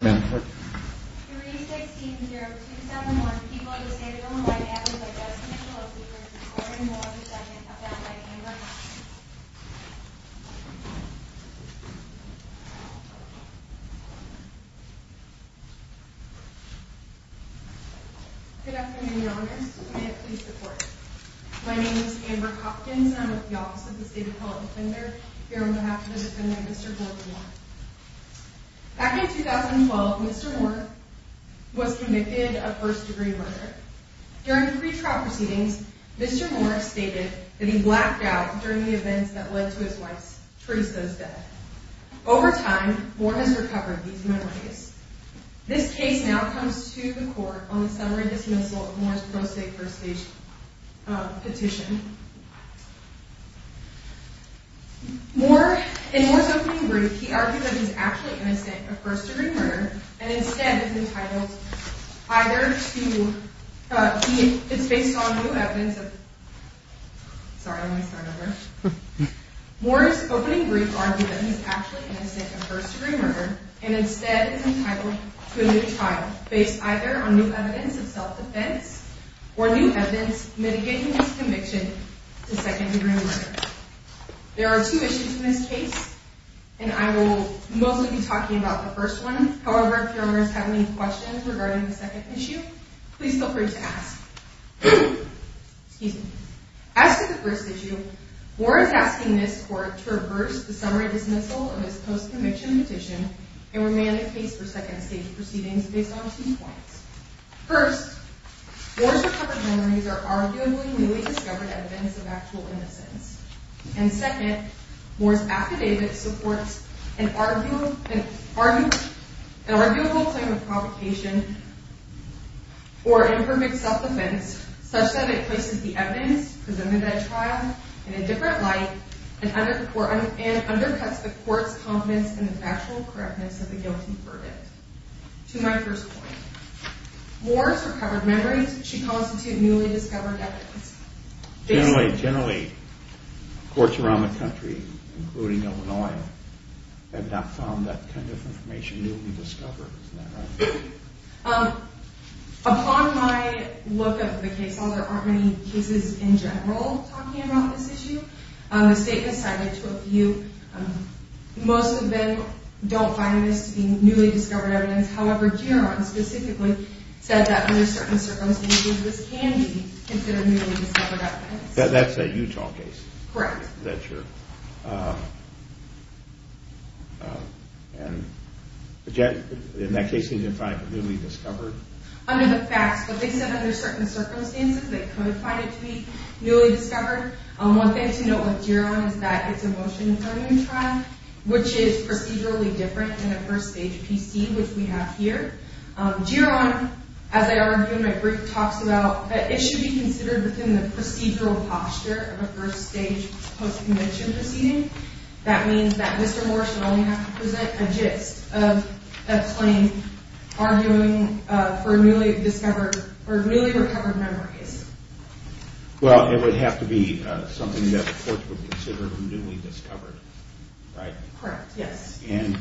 3-16-0-2-7-1 People of the State of Illinois have been diagnosed with the low fever from carbon monoxide and have been found by Amber Hopkins. Good afternoon Your Honors. May it please the Court. My name is Amber Hopkins and I'm with the Office of the State Appellate Defender. Here on behalf of the defendant, Mr. Gordon Moore. Back in 2012, Mr. Moore was convicted of first degree murder. During the pre-trial proceedings, Mr. Moore stated that he blacked out during the events that led to his wife's, Teresa's death. Over time, Moore has recovered these memories. This case now comes to the Court on the summary dismissal of Moore's pro se first stage petition. In Moore's opening brief, he argued that he is actually innocent of first degree murder and instead is entitled to a new trial based either on new evidence of self-defense or new evidence mitigating his conviction. There are two issues in this case and I will mostly be talking about the first one. However, if Your Honors have any questions regarding the second issue, please feel free to ask. As for the first issue, Moore is asking this Court to reverse the summary dismissal of his post-conviction petition and remand the case for second stage proceedings based on two points. First, Moore's recovered memories are arguably newly discovered evidence of actual innocence. And second, Moore's affidavit supports an arguable claim of provocation or imperfect self-defense such that it places the evidence presented at trial in a different light and undercuts the Court's confidence in the factual correctness of the guilty verdict. To my first point, Moore's recovered memories should constitute newly discovered evidence. Generally, courts around the country, including Illinois, have not found that kind of information newly discovered, isn't that right? Upon my look at the case, although there aren't many cases in general talking about this issue, the statement cited to a few, most of them don't find this to be newly discovered evidence. However, Geron specifically said that under certain circumstances this can be considered newly discovered evidence. That's a Utah case? Correct. And in that case, he didn't find it to be newly discovered? Under the facts, but they said under certain circumstances they could find it to be newly discovered. One thing to note with Geron is that it's a motion for a new trial, which is procedurally different than a first stage PC, which we have here. Geron, as I argued in my brief, talks about that it should be considered within the procedural posture of a first stage post-convention proceeding. That means that Mr. Moore should only have to present a gist of explaining arguing for newly discovered or newly recovered memories. Well, it would have to be something that the courts would consider newly discovered, right? Correct, yes. And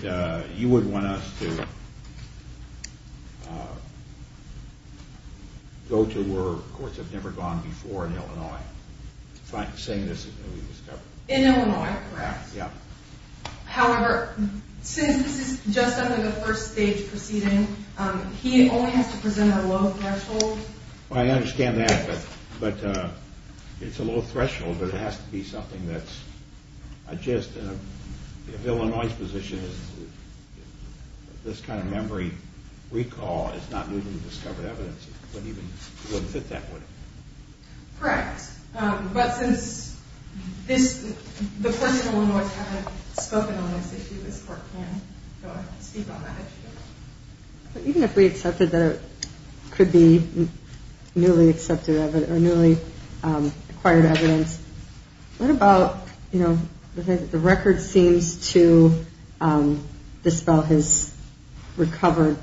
you would want us to go to where courts have never gone before in Illinois, saying this is newly discovered? In Illinois, correct. Yeah. However, since this is just under the first stage proceeding, he only has to present a low threshold. I understand that, but it's a low threshold, but it has to be something that's a gist. If Illinois' position is this kind of memory recall is not newly discovered evidence, it wouldn't even fit that would it? Correct. But since the courts in Illinois haven't spoken on this issue, this court can't go ahead and speak on that issue. Even if we accepted that it could be newly acquired evidence, what about the record seems to dispel his recovered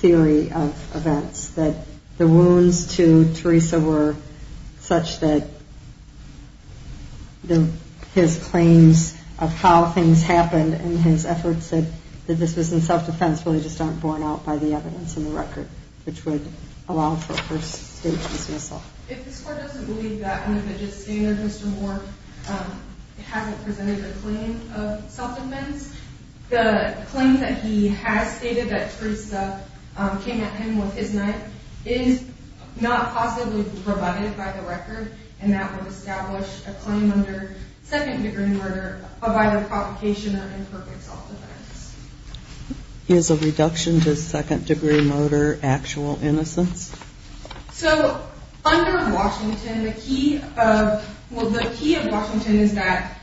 theory of events, that the wounds to Teresa were such that his claims of how things happened in his efforts said that this was in self-defense really just aren't borne out by the evidence in the record, which would allow for a first stage dismissal. If this court doesn't believe that under the gist standard, Mr. Moore hasn't presented a claim of self-defense, the claim that he has stated that Teresa came at him with his knife is not possibly provided by the record, and that would establish a claim under second degree murder of either provocation or imperfect self-defense. Is a reduction to second degree murder actual innocence? So under Washington, the key of Washington is that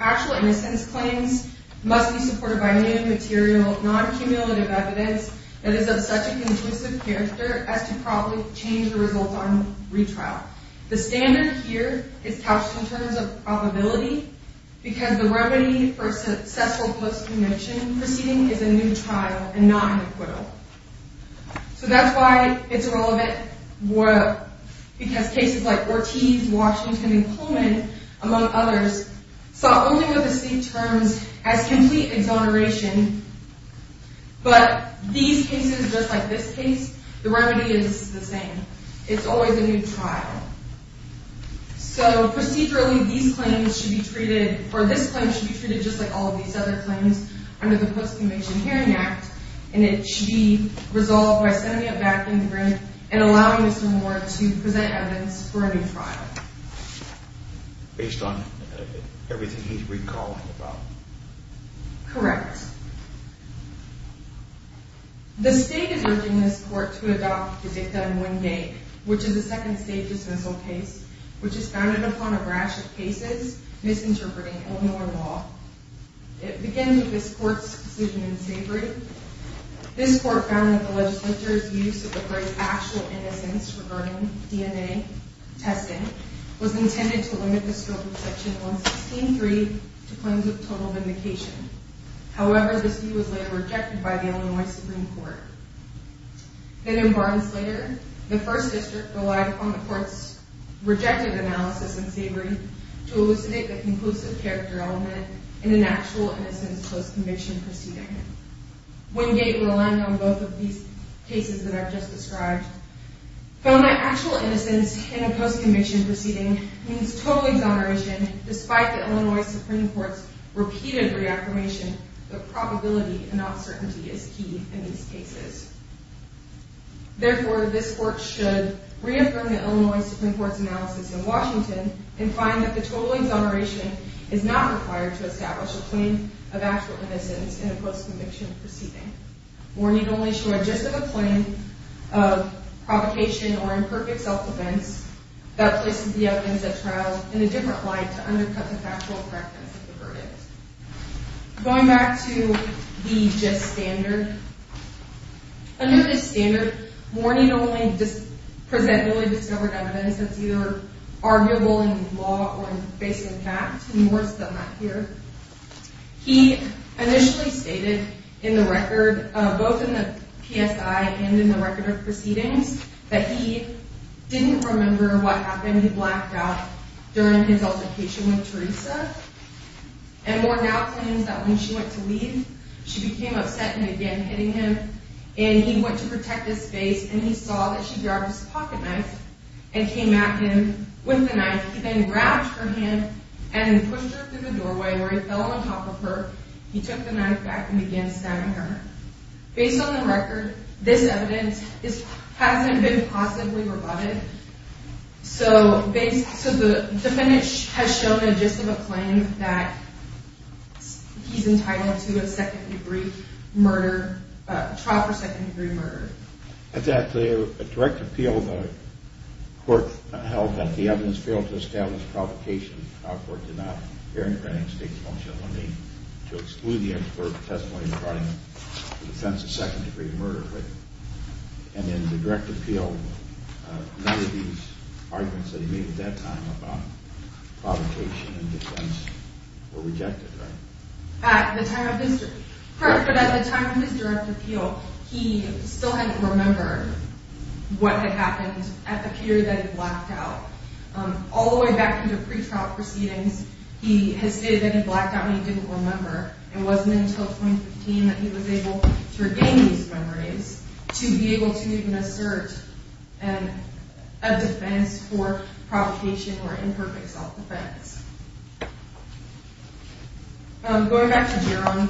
actual innocence claims must be supported by new material, non-cumulative evidence that is of such a conclusive character as to probably change the results on retrial. The standard here is couched in terms of probability, because the remedy for successful post-cumulative proceeding is a new trial and not an acquittal. So that's why it's irrelevant, because cases like Ortiz, Washington, and Pullman, among others, saw only the same terms as complete exoneration, but these cases, just like this case, the remedy is the same. It's always a new trial. So procedurally, these claims should be treated, or this claim should be treated just like all of these other claims under the Post-Cumulative Hearing Act, and it should be resolved by sending it back in the ring and allowing Mr. Moore to present evidence for a new trial. Based on everything he's recalling about? Correct. The state is urging this court to adopt the DICTA in one day, which is a second-stage dismissal case, which is founded upon a rash of cases misinterpreting Illinois law. It begins with this court's decision in Savory. This court found that the legislature's use of the phrase actual innocence regarding DNA testing was intended to limit the scope of Section 116.3 to claims of total vindication. However, this view was later rejected by the Illinois Supreme Court. Then, in Barnes-Slater, the First District relied upon the court's rejected analysis in Savory to elucidate the conclusive character element in an actual innocence post-conviction proceeding. Wingate, relying on both of these cases that I've just described, found that actual innocence in a post-conviction proceeding means total exoneration, despite the Illinois Supreme Court's repeated reaffirmation that probability and uncertainty is key in these cases. Therefore, this court should reaffirm the Illinois Supreme Court's analysis in Washington and find that the total exoneration is not required to establish a claim of actual innocence in a post-conviction proceeding or need only show a gist of a claim of provocation or imperfect self-defense that places the evidence at trial in a different light to undercut the factual correctness of the verdict. Going back to the gist standard, under the standard, warning only present newly discovered evidence that's either arguable in law or in facing fact, and more is still not here. He initially stated in the record, both in the PSI and in the record of proceedings, that he didn't remember what happened. He blacked out during his altercation with Teresa. And warned out claims that when she went to leave, she became upset and began hitting him. And he went to protect his face, and he saw that she grabbed his pocketknife and came at him with the knife. He then grabbed her hand and pushed her through the doorway where he fell on top of her. He took the knife back and began stabbing her. Based on the record, this evidence hasn't been possibly rebutted. So the defendant has shown a gist of a claim that he's entitled to a second-degree murder, a trial for second-degree murder. Exactly. A direct appeal, the court held that the evidence failed to establish provocation. Our court did not. Erin Cranning's case won't show the need to exclude the expert testimony regarding the defense of second-degree murder. And in the direct appeal, none of these arguments that he made at that time about provocation and defense were rejected, right? At the time of his direct appeal, he still hadn't remembered what had happened at the period that he blacked out. All the way back into pre-trial proceedings, he has stated that he blacked out and he didn't remember. It wasn't until 2015 that he was able to regain these memories to be able to even assert a defense for provocation or imperfect self-defense. Going back to Geron,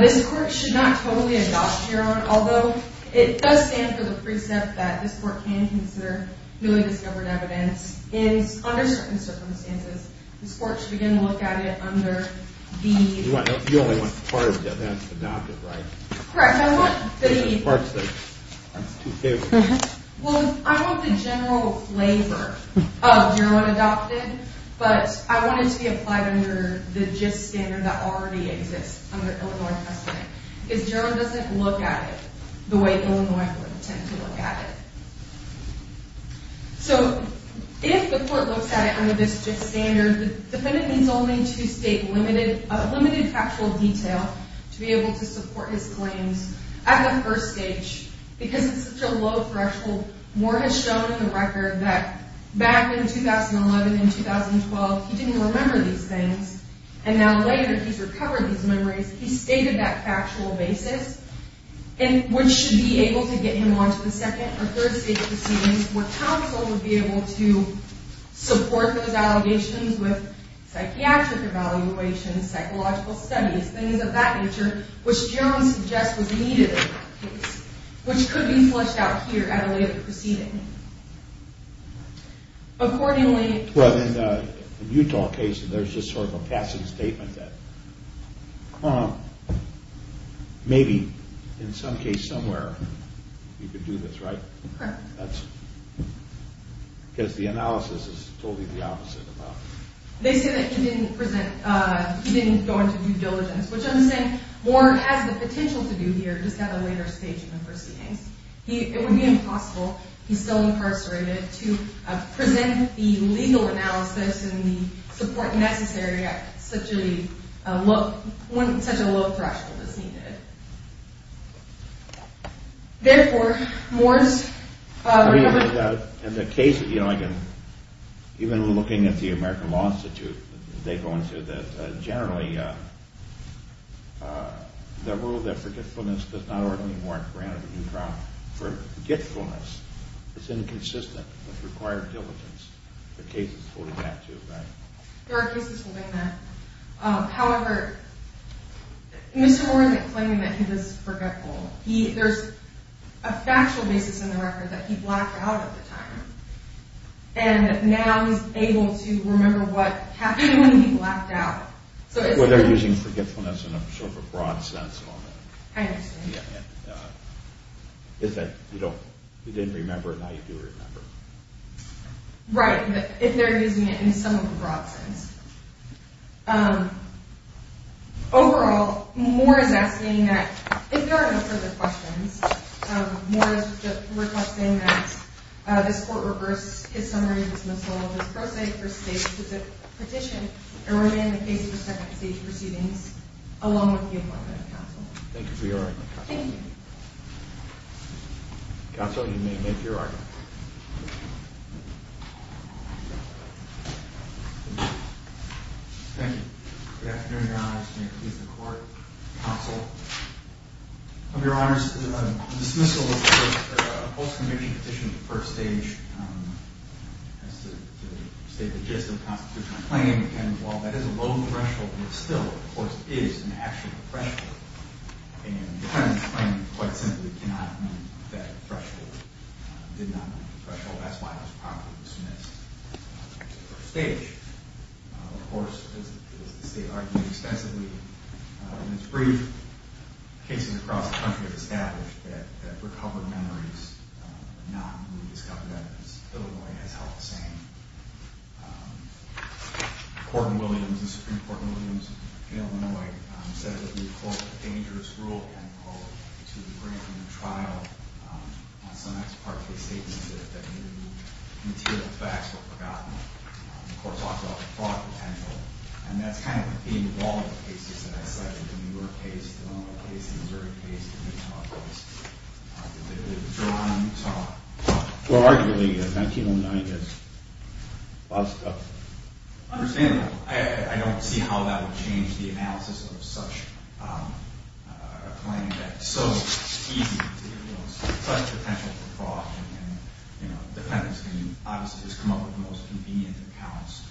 this court should not totally adopt Geron, although it does stand for the precept that this court can consider newly discovered evidence. Under certain circumstances, this court should begin to look at it under the... You only want part of the evidence adopted, right? Correct. Parts that aren't too favorable. Well, I want the general flavor of Geron adopted, but I want it to be applied under the gist standard that already exists under Illinois testimony. Because Geron doesn't look at it the way Illinois would tend to look at it. So, if the court looks at it under this gist standard, the defendant needs only to state limited factual detail to be able to support his claims. At the first stage, because it's such a low threshold, Moore has shown in the record that back in 2011 and 2012, he didn't remember these things. He stated that factual basis, which should be able to get him onto the second or third stage proceedings where counsel would be able to support those allegations with psychiatric evaluations, psychological studies, things of that nature, which Geron suggests was needed in that case, which could be fleshed out here at a later proceeding. Accordingly... Well, in the Utah case, there's just sort of a passing statement that maybe, in some case somewhere, you could do this, right? Correct. That's... because the analysis is totally the opposite of that. They say that he didn't present... he didn't go into due diligence, which I'm saying Moore has the potential to do here just at a later stage in the proceedings. It would be impossible, he's still incarcerated, to present the legal analysis and the support necessary at such a low threshold as needed. Therefore, Moore's... I mean, in the case of... even looking at the American Law Institute, they go into that, generally, the rule that forgetfulness does not ordinarily warrant granted in Utah. Forgetfulness is inconsistent with required diligence. There are cases holding that, too, right? There are cases holding that. However, Mr. Orr isn't claiming that he was forgetful. There's a factual basis in the record that he blacked out at the time, and now he's able to remember what happened when he blacked out. Well, they're using forgetfulness in a sort of a broad sense. I understand. If you didn't remember, now you do remember. Right, but they're using it in some of the broad sense. Overall, Moore is asking that... if there are no further questions, Moore is requesting that this Court reverse his summary, dismissal, and prose for state petition, and remain in the case for second stage proceedings, along with the appointment of counsel. Thank you for your argument, Counsel. Thank you. Counsel, you may make your argument. Thank you. Good afternoon, Your Honor. Mr. Chief of Court, Counsel. Of Your Honor's dismissal of the post-conviction petition of the first stage has to say the gist of the Constitutional claim, and while that is a low threshold, it still, of course, is an actual threshold, and the defendant's claim quite simply cannot mean that threshold did not meet the threshold. That's why it was properly dismissed in terms of the first stage. Of course, as the State argued extensively in its brief, cases across the country have established that recovered memories, but not newly discovered evidence. Illinois has held the same. Court in Williams, the Supreme Court in Williams, Illinois, said that the, quote, dangerous rule, end quote, to bring from the trial on some ex parte statements that new material facts were forgotten. The Court talks about the fraud potential, and that's kind of the theme of all the cases that I cited, the New York case, the Illinois case, the Missouri case, the Utah case, the one in Utah. Well, arguably, 1909 is a lot of stuff. Understandably. I don't see how that would change the analysis of such a claim that it's so easy to disclose such potential for fraud, and, you know, defendants can obviously just come up with the most convenient accounts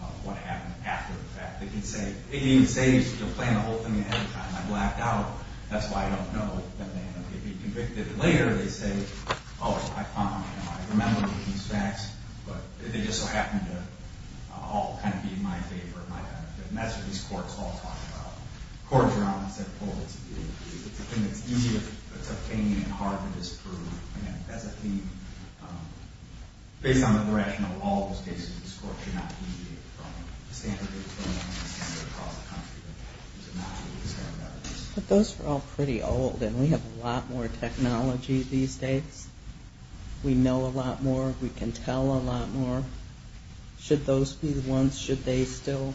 of what happened after the fact. They can say, you know, playing the whole thing ahead of time. I blacked out. That's why I don't know. Then they can be convicted later. They say, oh, I found, you know, I remember these facts, but they just so happen to all kind of be in my favor, in my benefit. And that's what these courts all talk about. Courts around the world say, oh, it's a thing that's easy, but it's a thing that's hard to disprove. Again, that's a theme. Based on the direction of all those cases, this court should not deviate from the standard that's going on across the country. But those are all pretty old, and we have a lot more technology these days. We know a lot more. We can tell a lot more. Should those be the ones? Should they still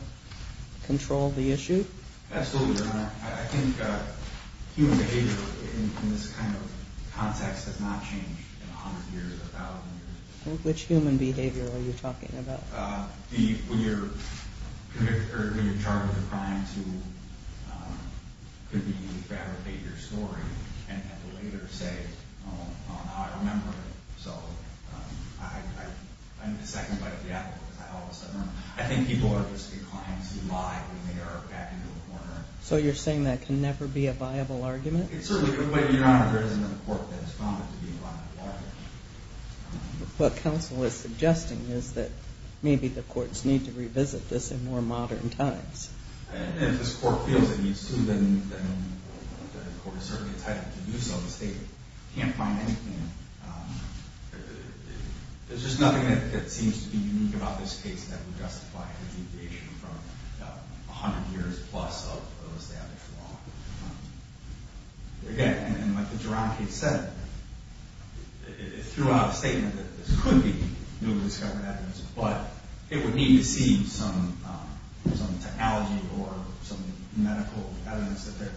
control the issue? Absolutely, Your Honor. Your Honor, I think human behavior in this kind of context has not changed in 100 years, 1,000 years. Which human behavior are you talking about? When you're charged with a crime, it could be you fabricate your story and have the later say, oh, now I remember it. So I'm the second bite of the apple because I all of a sudden remember. I think people are just declines who lie when they are back in the corner. So you're saying that can never be a viable argument? It certainly could, but, Your Honor, there isn't a court that has found it to be a viable argument. What counsel is suggesting is that maybe the courts need to revisit this in more modern times. And if this court feels it needs to, then the court is certainly entitled to do so because they can't find anything. There's just nothing that seems to be unique about this case that would justify a deviation from 100 years plus of the established law. Again, like the Jerome case said, it threw out a statement that this could be newly discovered evidence, but it would need to see some technology or some medical evidence that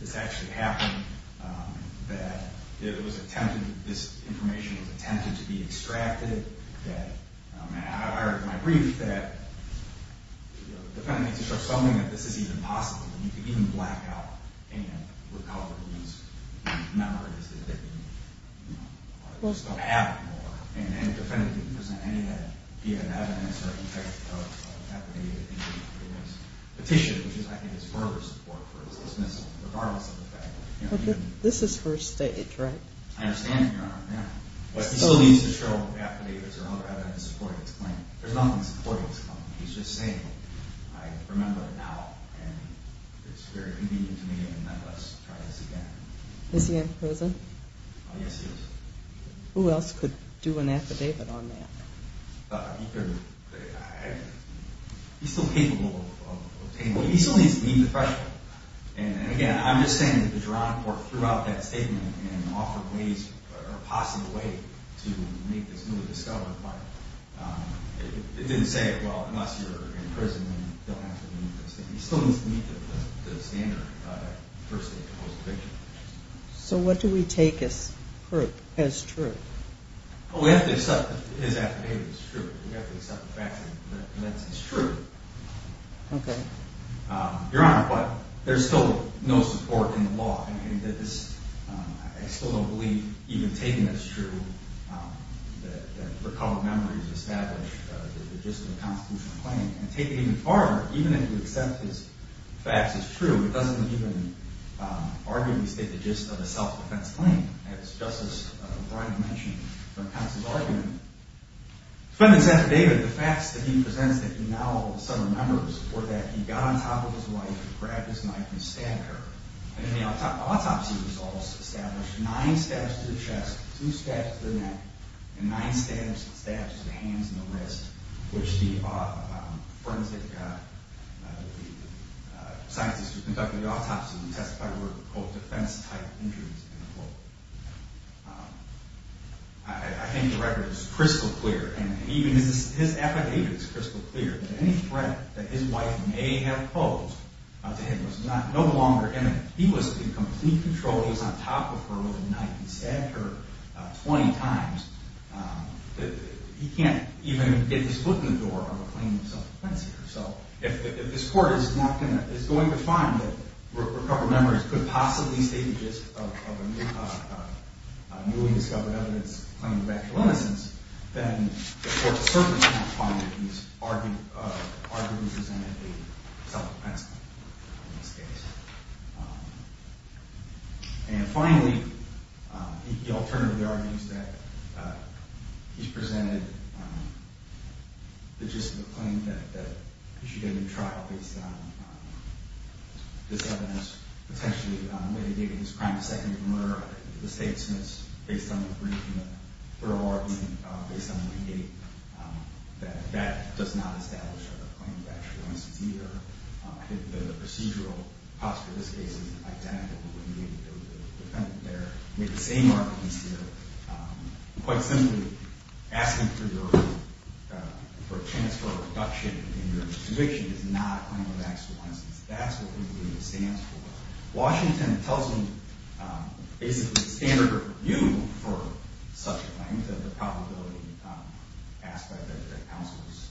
this actually happened, that this information was attempted to be extracted. I heard in my brief that the defendant needs to start assuming that this is even possible and you can even black out any recovered memories that they didn't have before. And the defendant didn't present any of that DNA evidence or any type of affidavit, petition, which I think is further support for his dismissal, regardless of the fact that... This is first stage, right? I understand, Your Honor, yeah. But he still needs to show affidavits or other evidence supporting his claim. There's nothing supporting his claim. He's just saying, I remember it now and it's very convenient to me and let's try this again. Is he in prison? Yes, he is. Who else could do an affidavit on that? He's still capable of obtaining it. He still needs to meet the threshold. And, again, I'm just saying that the Geronic Court threw out that statement and offered ways or a possible way to make this newly discovered, but it didn't say, well, unless you're in prison, then you don't have to meet this. He still needs to meet the standard of that first stage of the conviction. So what do we take as proof, as true? Well, we have to accept that his affidavit is true. We have to accept the fact that it's true. Okay. Your Honor, but there's still no support in the law. I still don't believe even taking it as true that recall of memories established the gist of a constitutional claim. And taking it even farther, even if you accept his facts as true, it doesn't even arguably state the gist of a self-defense claim. As Justice Breyer mentioned from Counsel's argument, defendant's affidavit, the facts that he presents that he now, some remember, support that he got on top of his wife, grabbed his knife, and stabbed her. And in the autopsy results established nine stabs to the chest, two stabs to the neck, and nine stabs to the hands and the wrist, which the forensic scientists who conducted the autopsy testified were called defense-type injuries. I think the record is crystal clear, and even his affidavit is crystal clear, that any threat that his wife may have posed to him was no longer imminent. He was in complete control. He was on top of her with a knife. He stabbed her 20 times. He can't even get his foot in the door of a claim of self-defense here. So if this Court is going to find that recoverable memories could possibly state the gist of a newly discovered evidence claim of actual innocence, then the Court of Circumstance finds that he's arguably presented a self-defense claim in this case. And finally, he alternatively argues that he's presented the gist of a claim that he should get a new trial based on this evidence, potentially mitigating his crime to second-degree murder, which the State submits based on the brief and the thorough argument based on the plea gate, that that does not establish a claim of actual innocence either. I think the procedural posture of this case is identical. We would need to go to the defendant there, make the same arguments here, quite simply asking for a chance for a reduction in your conviction is not a claim of actual innocence. That's what the plea gate stands for. Washington tells me basically the standard of review for such claims, the probability aspect that the counsel is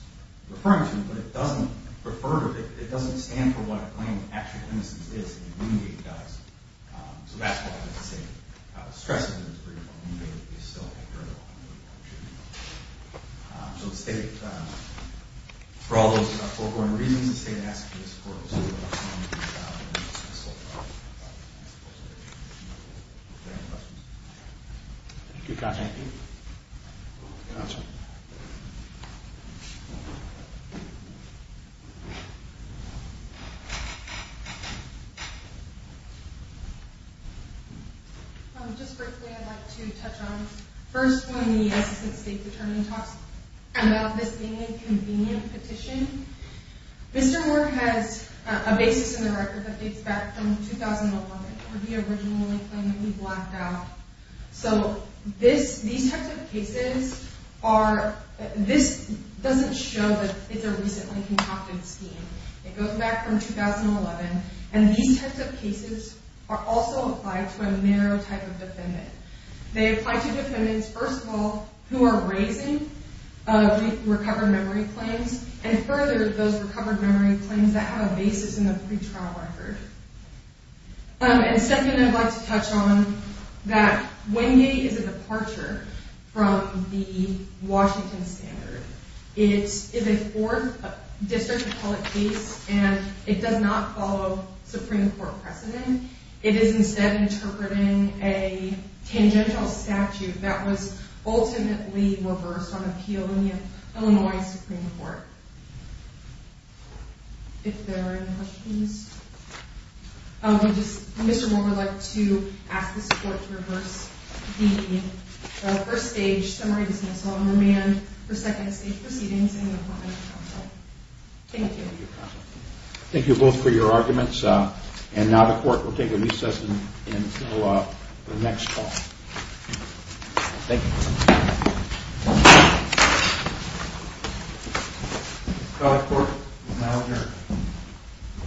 referring to, but it doesn't refer to it. It doesn't stand for what a claim of actual innocence is. The plea gate does. So that's why I have to say I was stressed in this brief on the plea gate. It's still a journal. So the State, for all those foregoing reasons, the State asks for your support. We'll see what we can do about it. That's all I have. If there are any questions. Thank you, counsel. Thank you. Counsel. Just briefly, I'd like to touch on, first, when the Assistant State Attorney talks about this being a convenient petition, Mr. Moore has a basis in the record that dates back from 2011, where he originally claimed that he blacked out. So these types of cases are, this doesn't show that it's a recently concocted scheme. It goes back from 2011. And these types of cases are also applied to a narrow type of defendant. They apply to defendants, first of all, who are raising recovered memory claims, and further, those recovered memory claims that have a basis in the pretrial record. And second, I'd like to touch on that when the plea gate is a departure from the Washington standard, it is a fourth district appellate case, and it does not follow Supreme Court precedent. It is instead interpreting a tangential statute that was ultimately reversed on appeal in the Illinois Supreme Court. If there are any questions. Mr. Moore would like to ask the support to reverse the first stage summary dismissal and remand for second stage proceedings in the Appellate Counsel. Thank you. Thank you both for your arguments. And now the Court will take a recess until the next call. Thank you.